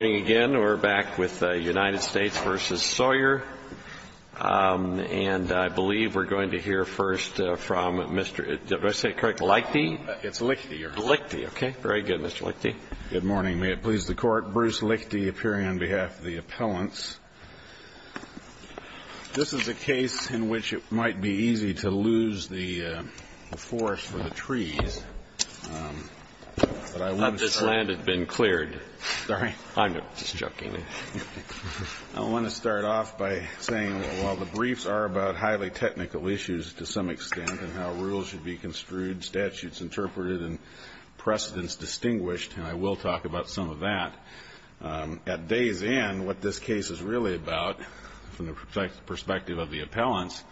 And I believe we're going to hear first from Mr. Lichte. It's Lichte. Lichte, okay. Very good, Mr. Lichte. Good morning. May it please the Court. Bruce Lichte appearing on behalf of the appellants. This is a case in which it might be easy to lose the forest for the trees. This land has been cleared. I'm sorry? I'm sorry. Just joking. I want to start off by saying that while the briefs are about highly technical issues to some extent, and how rules should be construed, statutes interpreted, and precedents distinguished, and I will talk about some of that, at days in, what this case is really about, from the perspective of the appellants,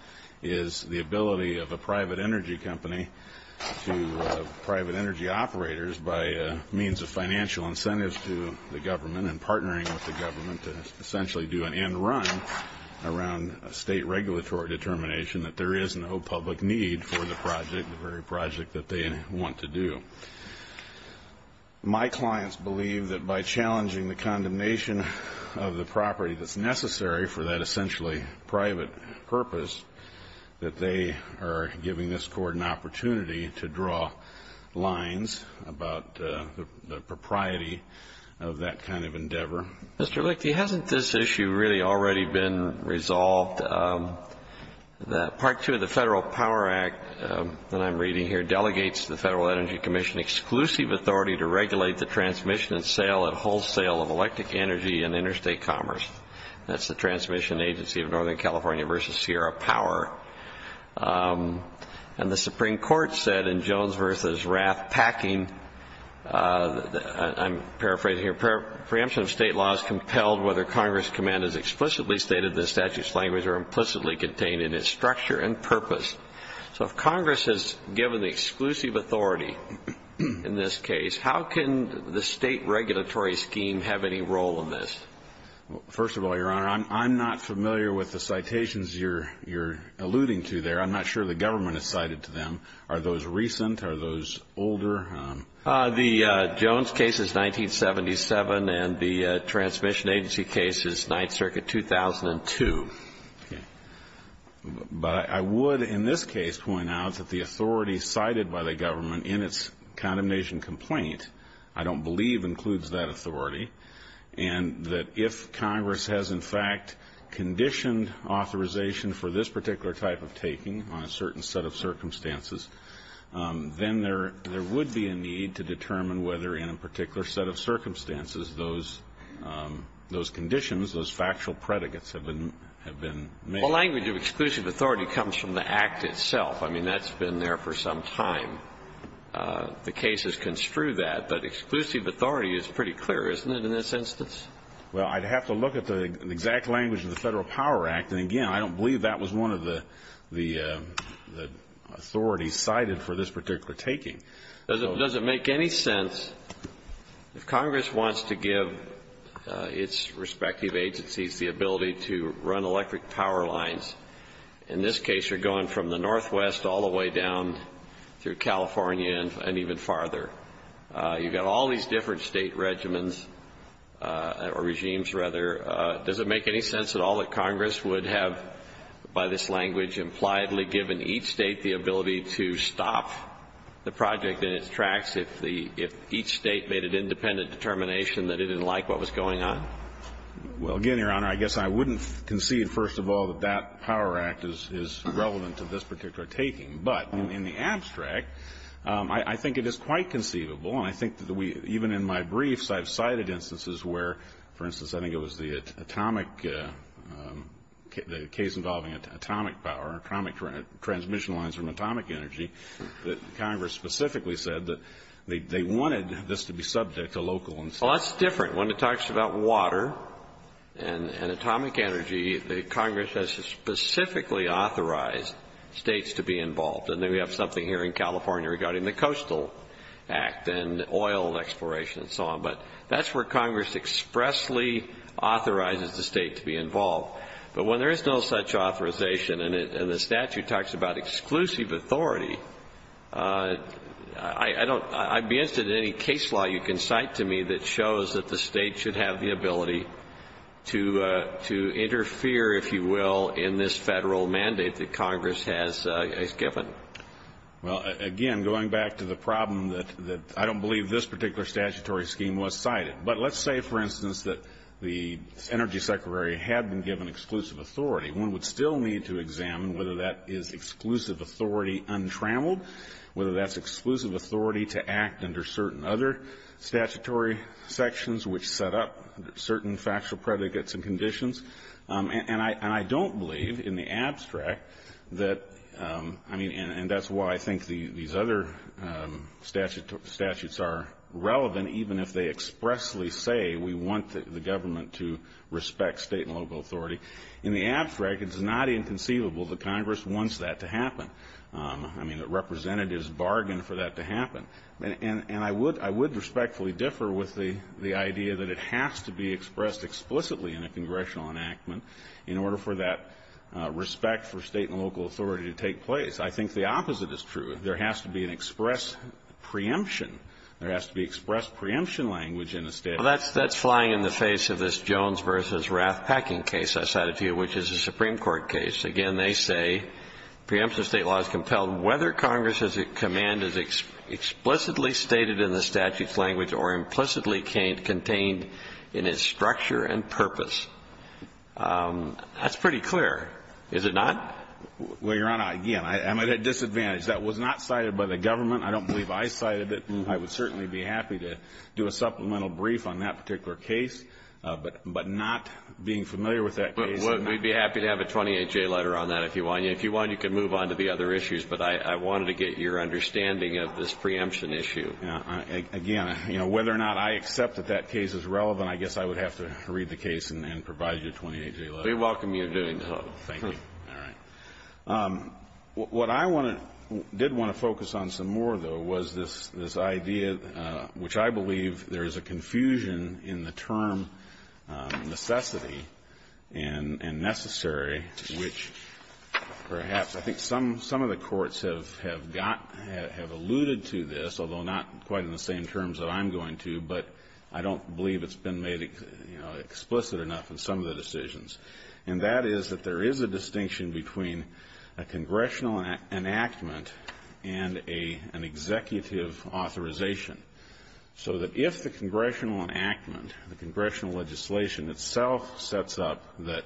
is the ability of a private energy company to private energy operators by means of financial incentives to the government and partnering with the government to essentially do an end run around a state regulatory determination that there is no public need for the project, the very project that they want to do. My clients believe that by challenging the condemnation of the property that's necessary for that essentially private purpose, that they are giving this court an opportunity to draw lines about the propriety of that kind of endeavor. Mr. Lichte, hasn't this issue really already been resolved? Part 2 of the Federal Power Act that I'm reading here delegates to the Federal Energy Commission exclusive authority to regulate the transmission and sale and wholesale of electric energy and interstate commerce. That's the transmission agency of Northern California versus Sierra Power. And the Supreme Court said in Jones versus Rath packing, I'm paraphrasing here, preemption of state law is compelled whether Congress' command is explicitly stated in the statute's language or implicitly contained in its structure and purpose. So if Congress is given the exclusive authority in this case, how can the state regulatory scheme have any role in this? First of all, Your Honor, I'm not familiar with the citations you're alluding to there. I'm not sure the government has cited to them. Are those recent? Are those older? The Jones case is 1977 and the transmission agency case is 9th Circuit 2002. But I would in this case point out that the authority cited by the government in its condemnation complaint I don't believe includes that authority and that if Congress has in fact conditioned authorization for this particular type of taking on a certain set of circumstances, then there would be a need to determine whether in a particular set of circumstances those conditions, those factual predicates have been made. Well, language of exclusive authority comes from the act itself. I mean, that's been there for some time. The case has construed that. But exclusive authority is pretty clear, isn't it, in this instance? Well, I'd have to look at the exact language of the Federal Power Act. And again, I don't believe that was one of the authorities cited for this particular taking. Does it make any sense if Congress wants to give its respective agencies the ability to run electric power lines? In this case, you're going from the northwest all the way down through California and even farther. You've got all these different state regimens or regimes, rather. Does it make any sense at all that Congress would have, by this language, impliedly given each state the ability to stop the project in its tracks if each state made an independent determination that it didn't like what was going on? Well, again, Your Honor, I guess I wouldn't concede, first of all, that that Power Act is relevant to this particular taking. But in the abstract, I think it is quite conceivable, and I think that even in my briefs, I've cited instances where, for instance, I think it was the case involving atomic power, atomic transmission lines from atomic energy, that Congress specifically said that they wanted this to be subject to local institutions. Well, that's different. When it talks about water and atomic energy, Congress has specifically authorized states to be involved. And then we have something here in California regarding the Coastal Act and oil exploration and so on. But that's where Congress expressly authorizes the state to be involved. But when there is no such authorization, and the statute talks about exclusive authority, I'd be interested in any case law you can cite to me that shows that the state should have the ability to interfere, if you will, in this federal mandate that Congress has given. Well, again, going back to the problem that I don't believe this particular statutory scheme was cited. But let's say, for instance, that the Energy Secretary had been given exclusive authority. One would still need to examine whether that is exclusive authority untrammeled, whether that's exclusive authority to act under certain other statutory sections, which set up certain factual predicates and conditions. And I don't believe, in the abstract, that, I mean, and that's why I think these other statutes are relevant, even if they expressly say we want the government to respect state and local authority. In the abstract, it's not inconceivable that Congress wants that to happen. I mean, that representatives bargain for that to happen. And I would respectfully differ with the idea that it has to be expressed explicitly in a congressional enactment in order for that respect for state and local authority to take place. I think the opposite is true. There has to be an express preemption. There has to be express preemption language in a state. Well, that's flying in the face of this Jones v. Rath-Packing case I cited to you, which is a Supreme Court case. Again, they say preemption of state law is compelled whether Congress's command is explicitly stated in the statute's language or implicitly contained in its structure and purpose. That's pretty clear, is it not? Well, Your Honor, again, I'm at a disadvantage. That was not cited by the government. I don't believe I cited it. I would certainly be happy to do a supplemental brief on that particular case, but not being familiar with that case. We'd be happy to have a 28-J letter on that if you want. If you want, you can move on to the other issues. But I wanted to get your understanding of this preemption issue. Again, you know, whether or not I accept that that case is relevant, I guess I would have to read the case and provide you a 28-J letter. We welcome you doing so. Thank you. All right. What I want to do, did want to focus on some more, though, was this idea, which I believe there is a confusion in the term necessity and necessary, which perhaps I think some of the courts have got, have alluded to this, although not quite in the same terms that I'm going to, but I don't believe it's been made explicit enough in some of the decisions. And that is that there is a distinction between a congressional enactment and an executive authorization. So that if the congressional enactment, the congressional legislation itself sets up that,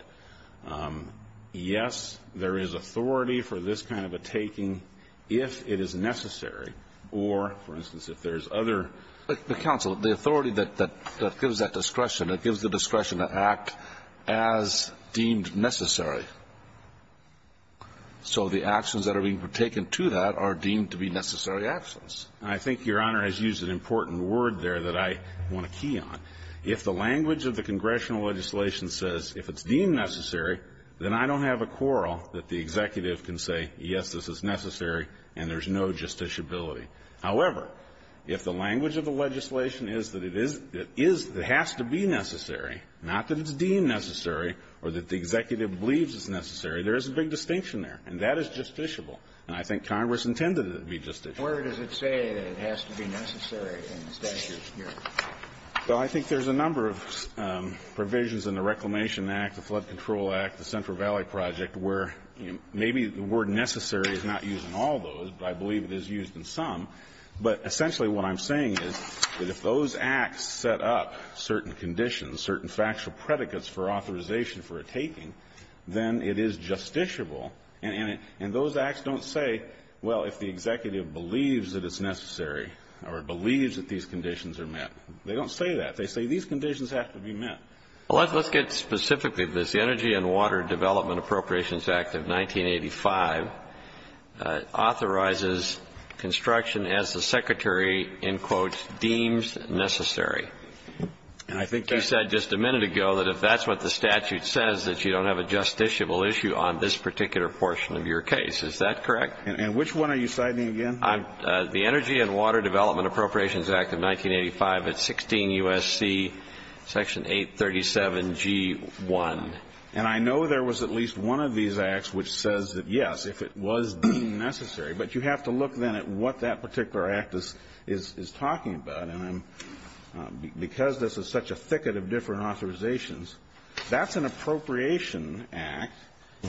yes, there is authority for this kind of a taking if it is necessary or, for instance, if there's other ---- as deemed necessary. So the actions that are being taken to that are deemed to be necessary actions. And I think Your Honor has used an important word there that I want to key on. If the language of the congressional legislation says if it's deemed necessary, then I don't have a quarrel that the executive can say, yes, this is necessary and there's no justiciability. However, if the language of the legislation is that it is, it is, it has to be necessary, not that it's deemed necessary or that the executive believes it's necessary, there is a big distinction there. And that is justiciable. And I think Congress intended it to be justiciable. Kennedy. Where does it say that it has to be necessary in this statute, Your Honor? Well, I think there's a number of provisions in the Reclamation Act, the Flood Control Act, the Central Valley Project, where maybe the word necessary is not used in all those, but I believe it is used in some. But essentially what I'm saying is that if those acts set up certain conditions, certain factual predicates for authorization for a taking, then it is justiciable. And those acts don't say, well, if the executive believes that it's necessary or believes that these conditions are met. They don't say that. They say these conditions have to be met. Well, let's get specifically to this. The Energy and Water Development Appropriations Act of 1985 authorizes construction as the Secretary, in quotes, deems necessary. And I think you said just a minute ago that if that's what the statute says, that you don't have a justiciable issue on this particular portion of your case. Is that correct? And which one are you citing again? The Energy and Water Development Appropriations Act of 1985. It's 16 U.S.C. Section 837G1. And I know there was at least one of these acts which says that, yes, if it was deemed necessary, but you have to look then at what that particular act is talking about. And because this is such a thicket of different authorizations, that's an appropriation act,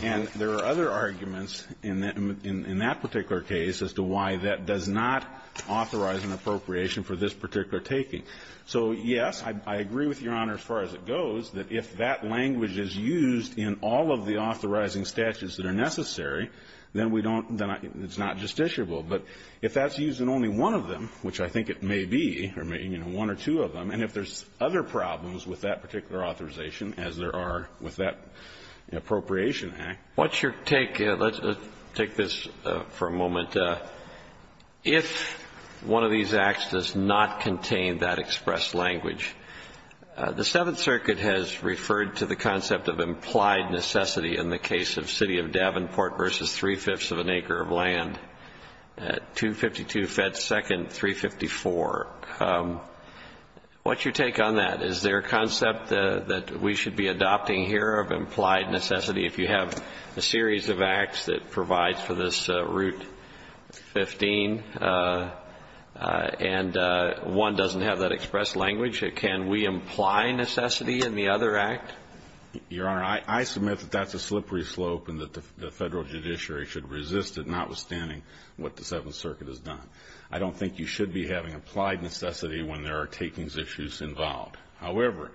and there are other arguments in that particular case as to why that does not authorize an appropriation for this particular taking. So, yes, I agree with Your Honor as far as it goes, that if that language is used in all of the authorizing statutes that are necessary, then we don't then it's not justiciable. But if that's used in only one of them, which I think it may be, or maybe one or two of them, and if there's other problems with that particular authorization, as there are with that appropriation act. What's your take? Let's take this for a moment. If one of these acts does not contain that expressed language, the Seventh Circuit has referred to the concept of implied necessity in the case of City of Davenport versus three-fifths of an acre of land at 252 Fed Second 354. What's your take on that? Is there a concept that we should be adopting here of implied necessity if you have a series of acts that provides for this Route 15 and one doesn't have that expressed language? Can we imply necessity in the other act? Your Honor, I submit that that's a slippery slope and that the Federal judiciary should resist it, notwithstanding what the Seventh Circuit has done. I don't think you should be having implied necessity when there are takings issues involved. However,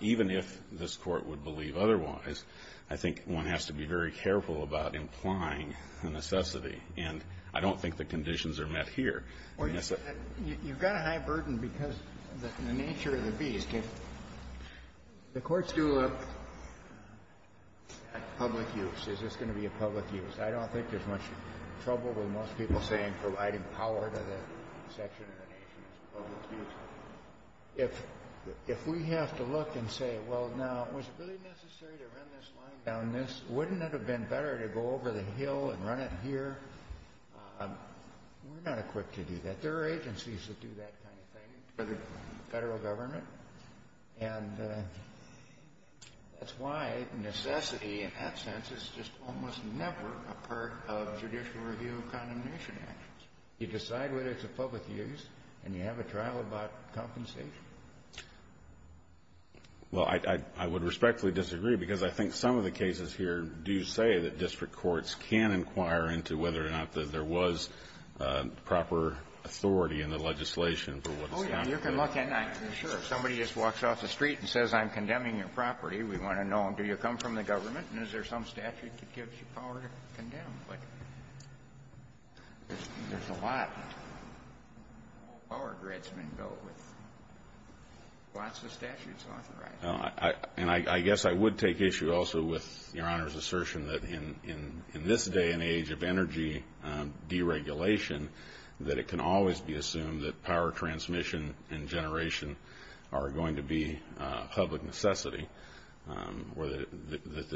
even if this Court would believe otherwise, I think one has to be very careful about implying a necessity, and I don't think the conditions are met here. You've got a high burden because of the nature of the beast. The Court's due a public use. Is this going to be a public use? I don't think there's much trouble with most people saying providing power to the section of the nation is a public use. If we have to look and say, well, now, was it really necessary to run this line down this? Wouldn't it have been better to go over the hill and run it here? We're not equipped to do that. There are agencies that do that kind of thing for the Federal Government, and that's why necessity in that sense is just almost never a part of judicial review of condemnation actions. You decide whether it's a public use and you have a trial about compensation. Well, I would respectfully disagree because I think some of the cases here do say that district courts can inquire into whether or not there was proper authority in the legislation for what was done. Oh, yeah. You can look and I can assure you if somebody just walks off the street and says, I'm condemning your property, we want to know, do you come from the government and is there some statute that gives you power to condemn? But there's a lot of power grids been built with lots of statutes authorized. And I guess I would take issue also with Your Honor's assertion that in this day and age of energy deregulation, that it can always be assumed that power transmission and generation are going to be a public necessity.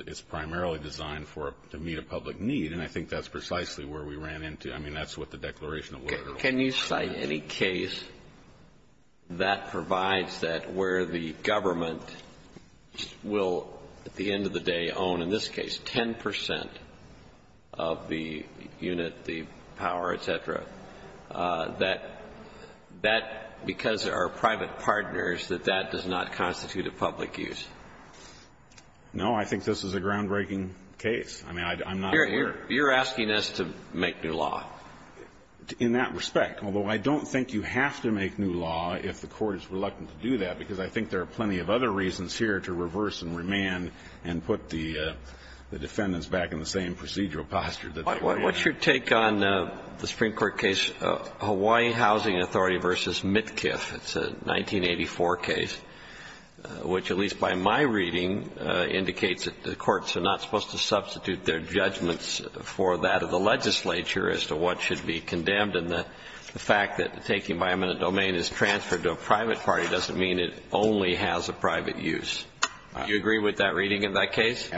It's primarily designed to meet a public need, and I think that's precisely where we ran into it. So can you cite any case that provides that where the government will at the end of the day own, in this case, 10 percent of the unit, the power, et cetera, that that, because there are private partners, that that does not constitute a public use? No. I think this is a groundbreaking case. I mean, I'm not aware. You're asking us to make new law. In that respect, although I don't think you have to make new law if the Court is reluctant to do that, because I think there are plenty of other reasons here to reverse and remand and put the defendants back in the same procedural posture that they were in. What's your take on the Supreme Court case Hawaii Housing Authority v. Mitkiff? It's a 1984 case, which at least by my reading indicates that the courts are not supposed to substitute their judgments for that of the legislature as to what should be condemned. And the fact that taking by eminent domain is transferred to a private party doesn't mean it only has a private use. Do you agree with that reading in that case?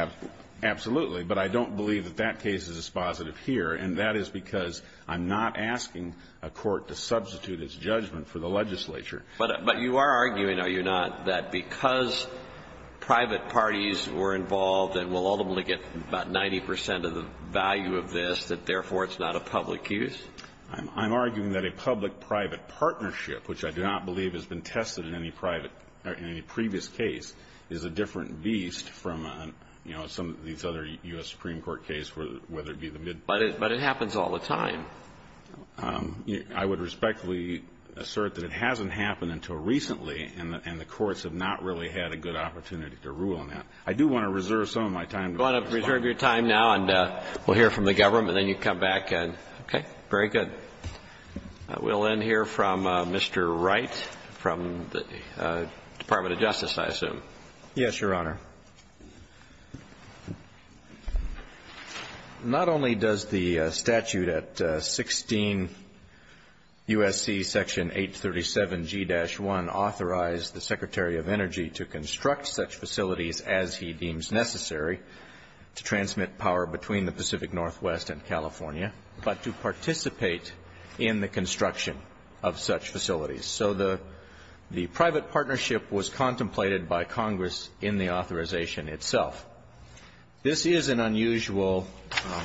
Absolutely. But I don't believe that that case is dispositive here, and that is because I'm not asking a court to substitute its judgment for the legislature. But you are arguing, are you not, that because private parties were involved and will ultimately get about 90 percent of the value of this, that, therefore, it's not a public use? I'm arguing that a public-private partnership, which I do not believe has been tested in any private or any previous case, is a different beast from, you know, some of these other U.S. Supreme Court cases, whether it be the mid-court. But it happens all the time. I would respectfully assert that it hasn't happened until recently, and the courts have not really had a good opportunity to rule on that. I do want to reserve some of my time. You want to reserve your time now, and we'll hear from the government, and then you come back. Okay. Very good. We'll then hear from Mr. Wright from the Department of Justice, I assume. Yes, Your Honor. Not only does the statute at 16 U.S.C. section 837G-1 authorize the Secretary of Energy to construct such facilities as he deems necessary to transmit power between the Pacific Northwest and California, but to participate in the construction of such facilities. So the private partnership was contemplated by Congress in the authorization itself. This is an unusual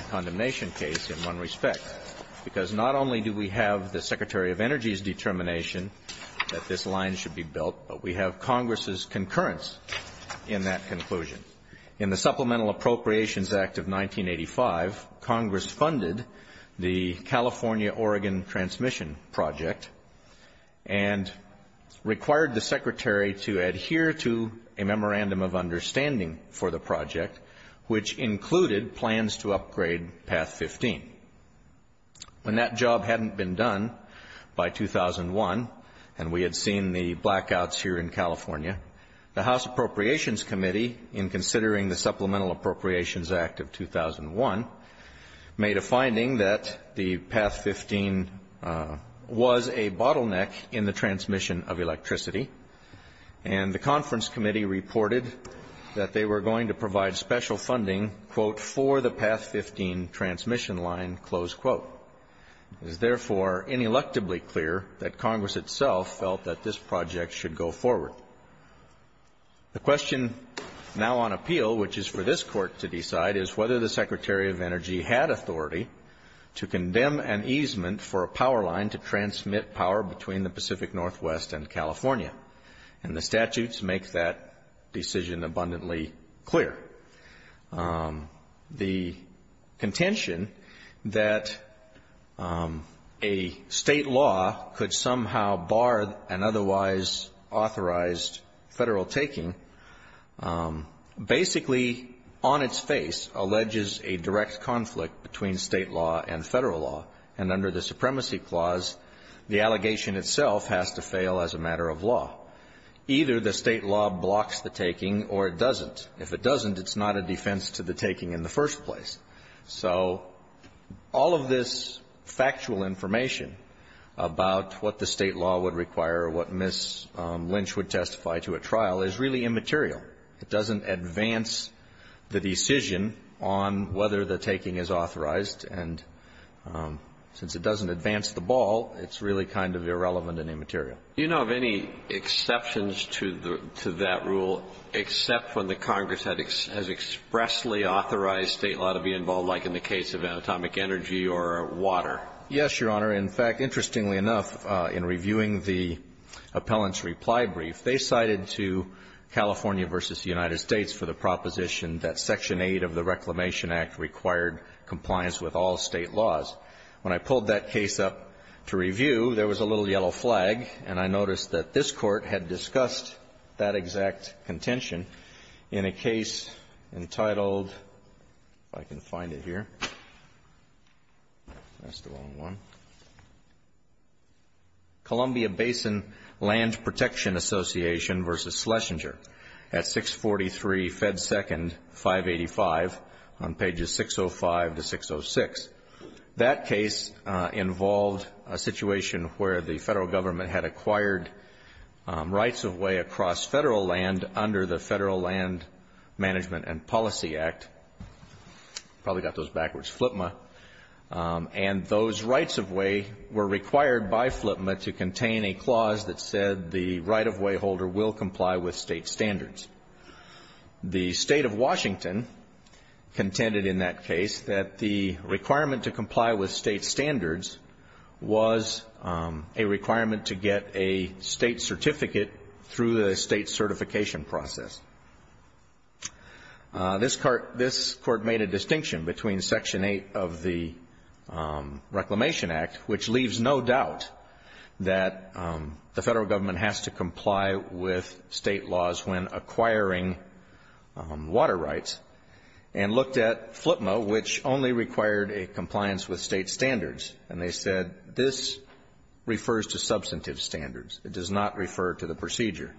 condemnation case in one respect, because not only do we have the Secretary of Energy's determination that this line should be built, but we have Congress's concurrence in that conclusion. In the Supplemental Appropriations Act of 1985, Congress funded the California-Oregon transmission project and required the Secretary to adhere to a memorandum of understanding for the project, which included plans to upgrade Path 15. When that job hadn't been done by 2001, and we had seen the blackouts here in California, the House Appropriations Committee, in considering the Supplemental Appropriations Act of 2001, made a finding that the Path 15 was a bottleneck in the transmission of electricity, and the conference committee reported that they were going to provide special funding, quote, for the Path 15 transmission line, close quote. It is therefore ineluctably clear that Congress itself felt that this project should go forward. The question now on appeal, which is for this Court to decide, is whether the Secretary of Energy had authority to condemn an easement for a power line to transmit power between the Pacific Northwest and California, and the statutes make that decision abundantly clear. The contention that a State law could somehow bar an otherwise authorized Federal taking basically on its face alleges a direct conflict between State law and Federal law, and under the Supremacy Clause, the allegation itself has to fail as a matter of law. Either the State law blocks the taking or it doesn't. If it doesn't, it's not a defense to the taking in the first place. So all of this factual information about what the State law would require or what Ms. Lynch would testify to at trial is really immaterial. It doesn't advance the decision on whether the taking is authorized, and since it doesn't advance the ball, it's really kind of irrelevant and immaterial. Do you know of any exceptions to that rule, except when the Congress has expressly authorized State law to be involved, like in the case of anatomic energy or water? Yes, Your Honor. In fact, interestingly enough, in reviewing the appellant's reply brief, they cited to California v. United States for the proposition that Section 8 of the Reclamation Act required compliance with all State laws. When I pulled that case up to review, there was a little yellow flag, and I noticed that this Court had discussed that exact contention in a case entitled, if I can find it here, that's the wrong one, Columbia Basin Land Protection Association v. Schlesinger at 643 Fed 2nd, 585 on pages 605 to 606. That case involved a situation where the Federal Government had acquired rights of way across Federal land under the Federal Land Management and Policy Act, probably got those backwards, FLPMA, and those rights of way were required by FLPMA to contain a clause that said the right-of-way holder will comply with State standards. The State of Washington contended in that case that the requirement to comply with State standards was a requirement to get a State certificate through the State certification process. This Court made a distinction between Section 8 of the Reclamation Act, which leaves no doubt that the Federal Government has to comply with State laws when acquiring rights and looked at FLPMA, which only required a compliance with State standards, and they said this refers to substantive standards. It does not refer to the procedure.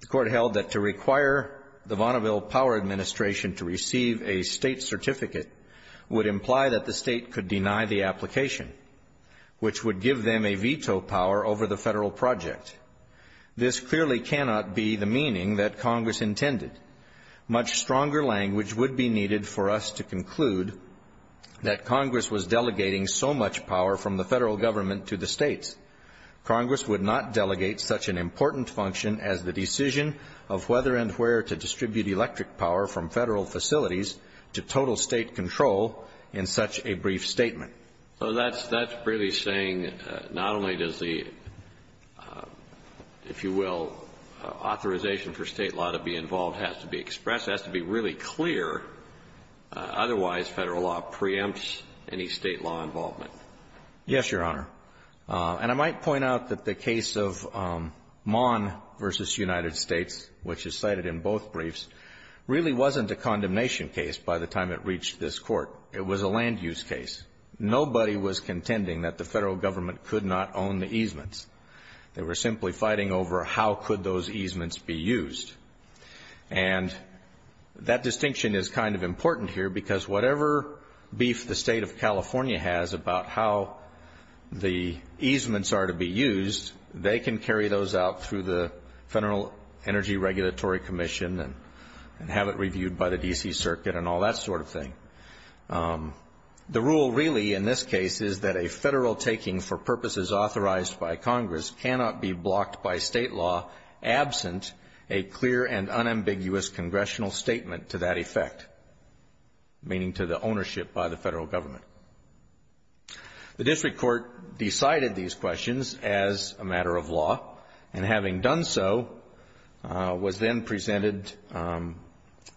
The Court held that to require the Vaunaville Power Administration to receive a State certificate would imply that the State could deny the application, which would give them a veto power over the Federal project. This clearly cannot be the meaning that Congress intended. Much stronger language would be needed for us to conclude that Congress was delegating so much power from the Federal Government to the States. Congress would not delegate such an important function as the decision of whether and where to distribute electric power from Federal facilities to total State control in such a brief statement. So that's really saying not only does the, if you will, authorization for State law to be involved has to be expressed, it has to be really clear, otherwise Federal law preempts any State law involvement. Yes, Your Honor. And I might point out that the case of Mahn v. United States, which is cited in both briefs, really wasn't a condemnation case by the time it reached this Court. It was a land-use case. Nobody was contending that the Federal Government could not own the easements. They were simply fighting over how could those easements be used. And that distinction is kind of important here because whatever beef the State of California has about how the easements are to be used, they can carry those out through the Federal Energy Regulatory Commission and have it reviewed by the D.C. Circuit and all that sort of thing. The rule really in this case is that a Federal taking for purposes authorized by Congress cannot be blocked by State law absent a clear and unambiguous congressional statement to that effect, meaning to the ownership by the Federal Government. The district court decided these questions as a matter of law, and having done so, was then presented,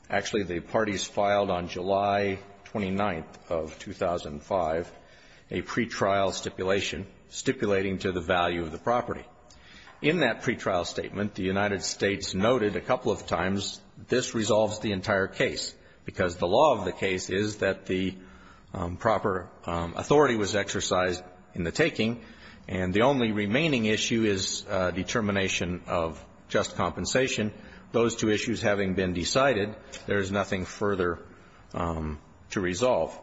actually the parties filed on July 29th of 2005, a pretrial stipulation stipulating to the value of the property. In that pretrial statement, the United States noted a couple of times this resolves the entire case because the law of the case is that the proper authority was exercised in the taking, and the only remaining issue is determination of just compensation. Those two issues having been decided, there is nothing further to resolve.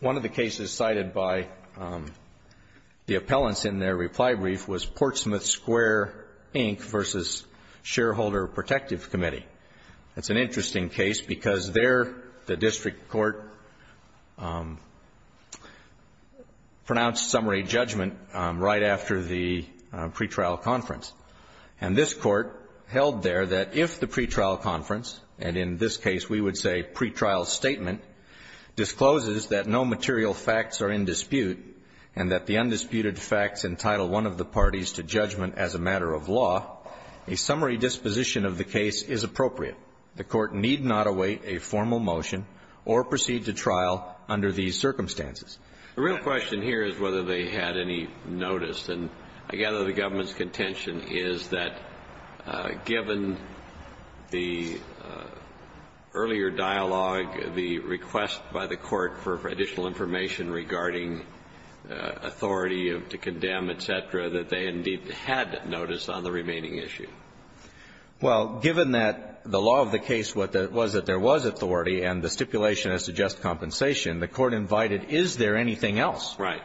One of the cases cited by the appellants in their reply brief was Portsmouth Square, Inc. v. Shareholder Protective Committee. It's an interesting case because there the district court pronounced summary judgment right after the pretrial conference. And this Court held there that if the pretrial conference, and in this case we would say pretrial statement, discloses that no material facts are in dispute and that the undisputed facts entitle one of the parties to judgment as a matter of law, a summary disposition of the case is appropriate. The Court need not await a formal motion or proceed to trial under these circumstances. The real question here is whether they had any notice. And I gather the government's contention is that given the earlier dialogue, the request by the Court for additional information regarding authority to condemn, et cetera, that they indeed had notice on the remaining issue. Well, given that the law of the case was that there was authority and the stipulation is to just compensation, the Court invited is there anything else. Right.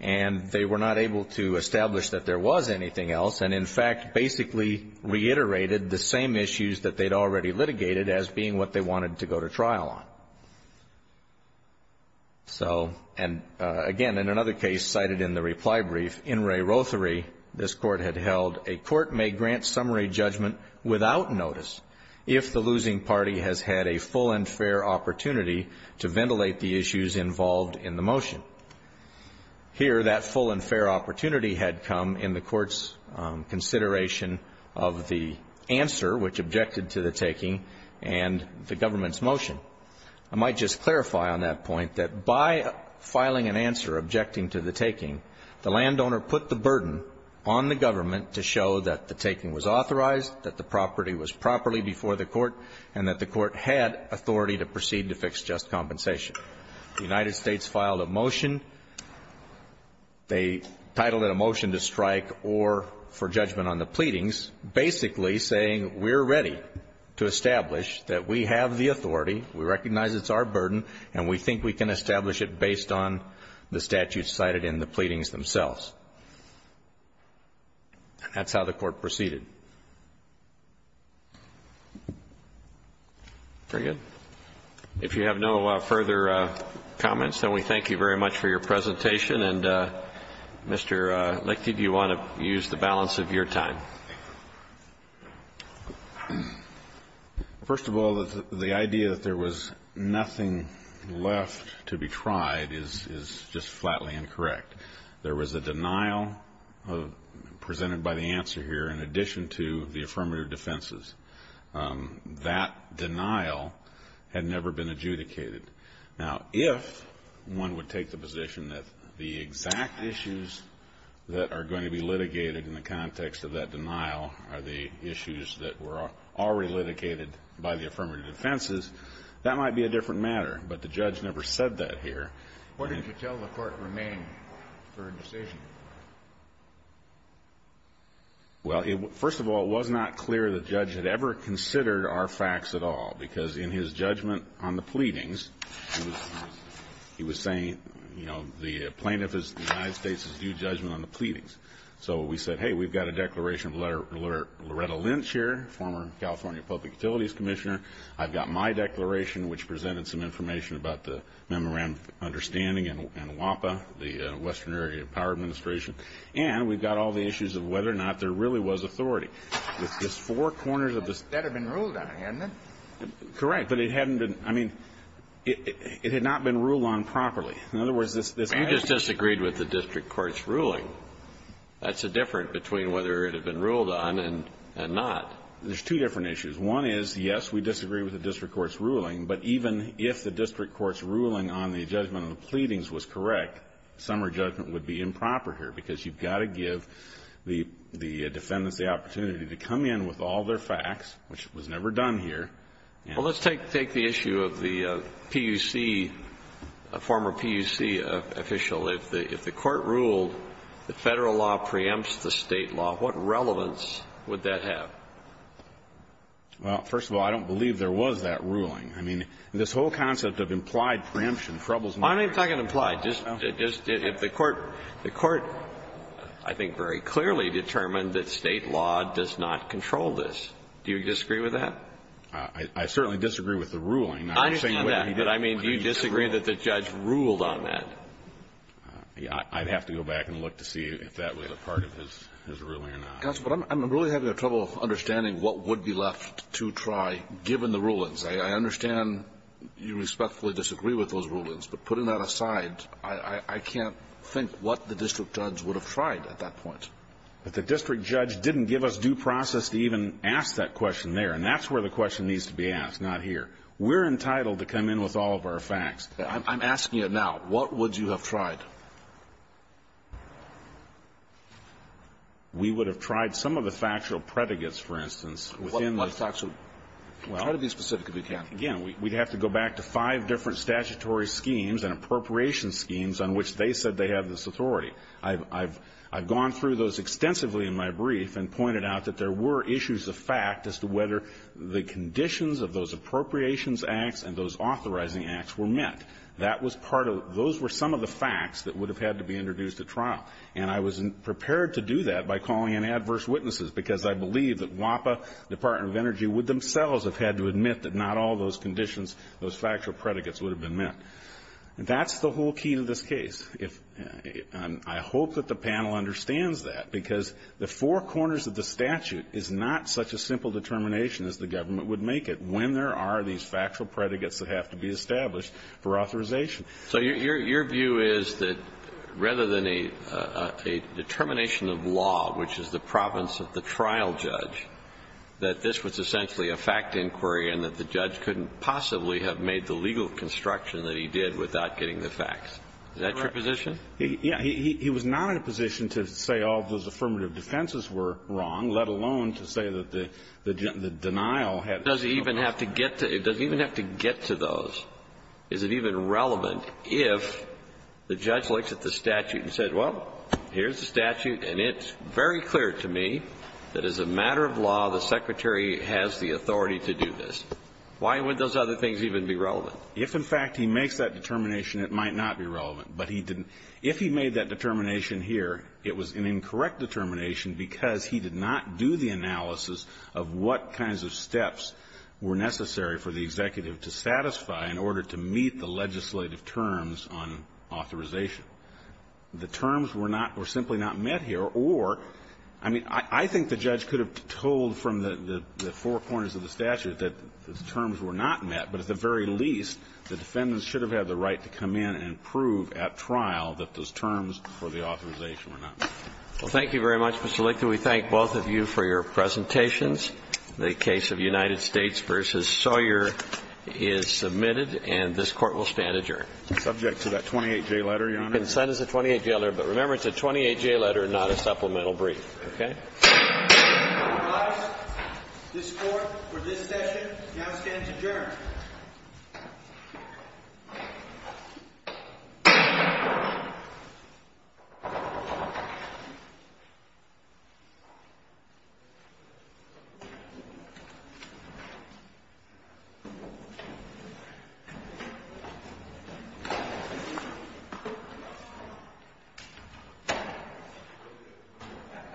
And they were not able to establish that there was anything else, and in fact basically reiterated the same issues that they had already litigated as being what they wanted to go to trial on. So, and again, in another case cited in the reply brief, In re Rothery, this Court had held a court may grant summary judgment without notice if the losing party has had a full and fair opportunity to ventilate the issues involved in the motion. Here, that full and fair opportunity had come in the Court's consideration of the answer, which objected to the taking, and the government's motion. I might just clarify on that point that by filing an answer objecting to the taking, the landowner put the burden on the government to show that the taking was authorized, that the property was properly before the Court, and that the Court had authority to proceed to fix just compensation. The United States filed a motion. They titled it a motion to strike or for judgment on the pleadings, basically saying we're ready to establish that we have the authority, we recognize it's our burden, and we think we can establish it based on the statutes cited in the pleadings themselves. That's how the Court proceeded. Very good. If you have no further comments, then we thank you very much for your presentation. And, Mr. Lichty, do you want to use the balance of your time? First of all, the idea that there was nothing left to be tried is just flatly incorrect. There was a denial presented by the answer here in addition to the affirmative defenses. That denial had never been adjudicated. Now, if one would take the position that the exact issues that are going to be litigated in the context of that denial are the issues that were already litigated by the affirmative defenses, that might be a different matter. But the judge never said that here. What did you tell the Court remain for a decision? Well, first of all, it was not clear the judge had ever considered our facts at all, because in his judgment on the pleadings, he was saying, you know, the plaintiff is the United States' due judgment on the pleadings. So we said, hey, we've got a declaration of Loretta Lynch here, former California Public Utilities Commissioner. I've got my declaration, which presented some information about the memorandum of understanding and WAPA, the Western Area Power Administration. And we've got all the issues of whether or not there really was authority. It's just four corners of this. That had been ruled on, hadn't it? Correct. But it hadn't been. I mean, it had not been ruled on properly. In other words, this. We just disagreed with the district court's ruling. That's the difference between whether it had been ruled on and not. There's two different issues. One is, yes, we disagree with the district court's ruling, but even if the district court's ruling on the judgment of the pleadings was correct, summary judgment would be improper here, because you've got to give the defendants the opportunity to come in with all their facts, which was never done here. Well, let's take the issue of the PUC, former PUC official. If the Court ruled the Federal law preempts the State law, what relevance would that have? Well, first of all, I don't believe there was that ruling. I mean, this whole concept of implied preemption troubles me. I'm not even talking implied. Just if the Court, I think, very clearly determined that State law does not control this. Do you disagree with that? I certainly disagree with the ruling. I understand that, but I mean, do you disagree that the judge ruled on that? I'd have to go back and look to see if that was a part of his ruling or not. Counsel, but I'm really having trouble understanding what would be left to try, given the rulings. I understand you respectfully disagree with those rulings, but putting that aside, I can't think what the district judge would have tried at that point. But the district judge didn't give us due process to even ask that question there, and that's where the question needs to be asked, not here. We're entitled to come in with all of our facts. I'm asking it now. What would you have tried? We would have tried some of the factual predicates, for instance. What factual? Try to be specific if you can. Again, we'd have to go back to five different statutory schemes and appropriation schemes on which they said they have this authority. I've gone through those extensively in my brief and pointed out that there were issues of fact as to whether the conditions of those appropriations acts and those authorizing acts were met. That was part of it. Those were some of the facts that would have had to be introduced at trial. And I was prepared to do that by calling in adverse witnesses, because I believe that WAPA, Department of Energy, would themselves have had to admit that not all those conditions, those factual predicates would have been met. That's the whole key to this case. I hope that the panel understands that, because the four corners of the statute is not such a simple determination as the government would make it when there are these factual predicates that have to be established for authorization. So your view is that rather than a determination of law, which is the province of the trial judge, that this was essentially a fact inquiry and that the judge couldn't possibly have made the legal construction that he did without getting the facts. Is that your position? Yeah. He was not in a position to say all of those affirmative defenses were wrong, let alone to say that the denial had been false. Does he even have to get to those? Is it even relevant if the judge looks at the statute and says, well, here's the statute, and it's very clear to me that as a matter of law, the Secretary has the Why would those other things even be relevant? If, in fact, he makes that determination, it might not be relevant. But he didn't. If he made that determination here, it was an incorrect determination because he did not do the analysis of what kinds of steps were necessary for the executive to satisfy in order to meet the legislative terms on authorization. The terms were not or simply not met here. Or, I mean, I think the judge could have told from the four corners of the statute were not met. But at the very least, the defendants should have had the right to come in and prove at trial that those terms for the authorization were not met. Well, thank you very much, Mr. Lictor. We thank both of you for your presentations. The case of United States v. Sawyer is submitted, and this Court will stand adjourned. Subject to that 28-J letter, Your Honor. Consent is a 28-J letter. But remember, it's a 28-J letter, not a supplemental brief. Okay? All rise. This Court, for this session, now stands adjourned.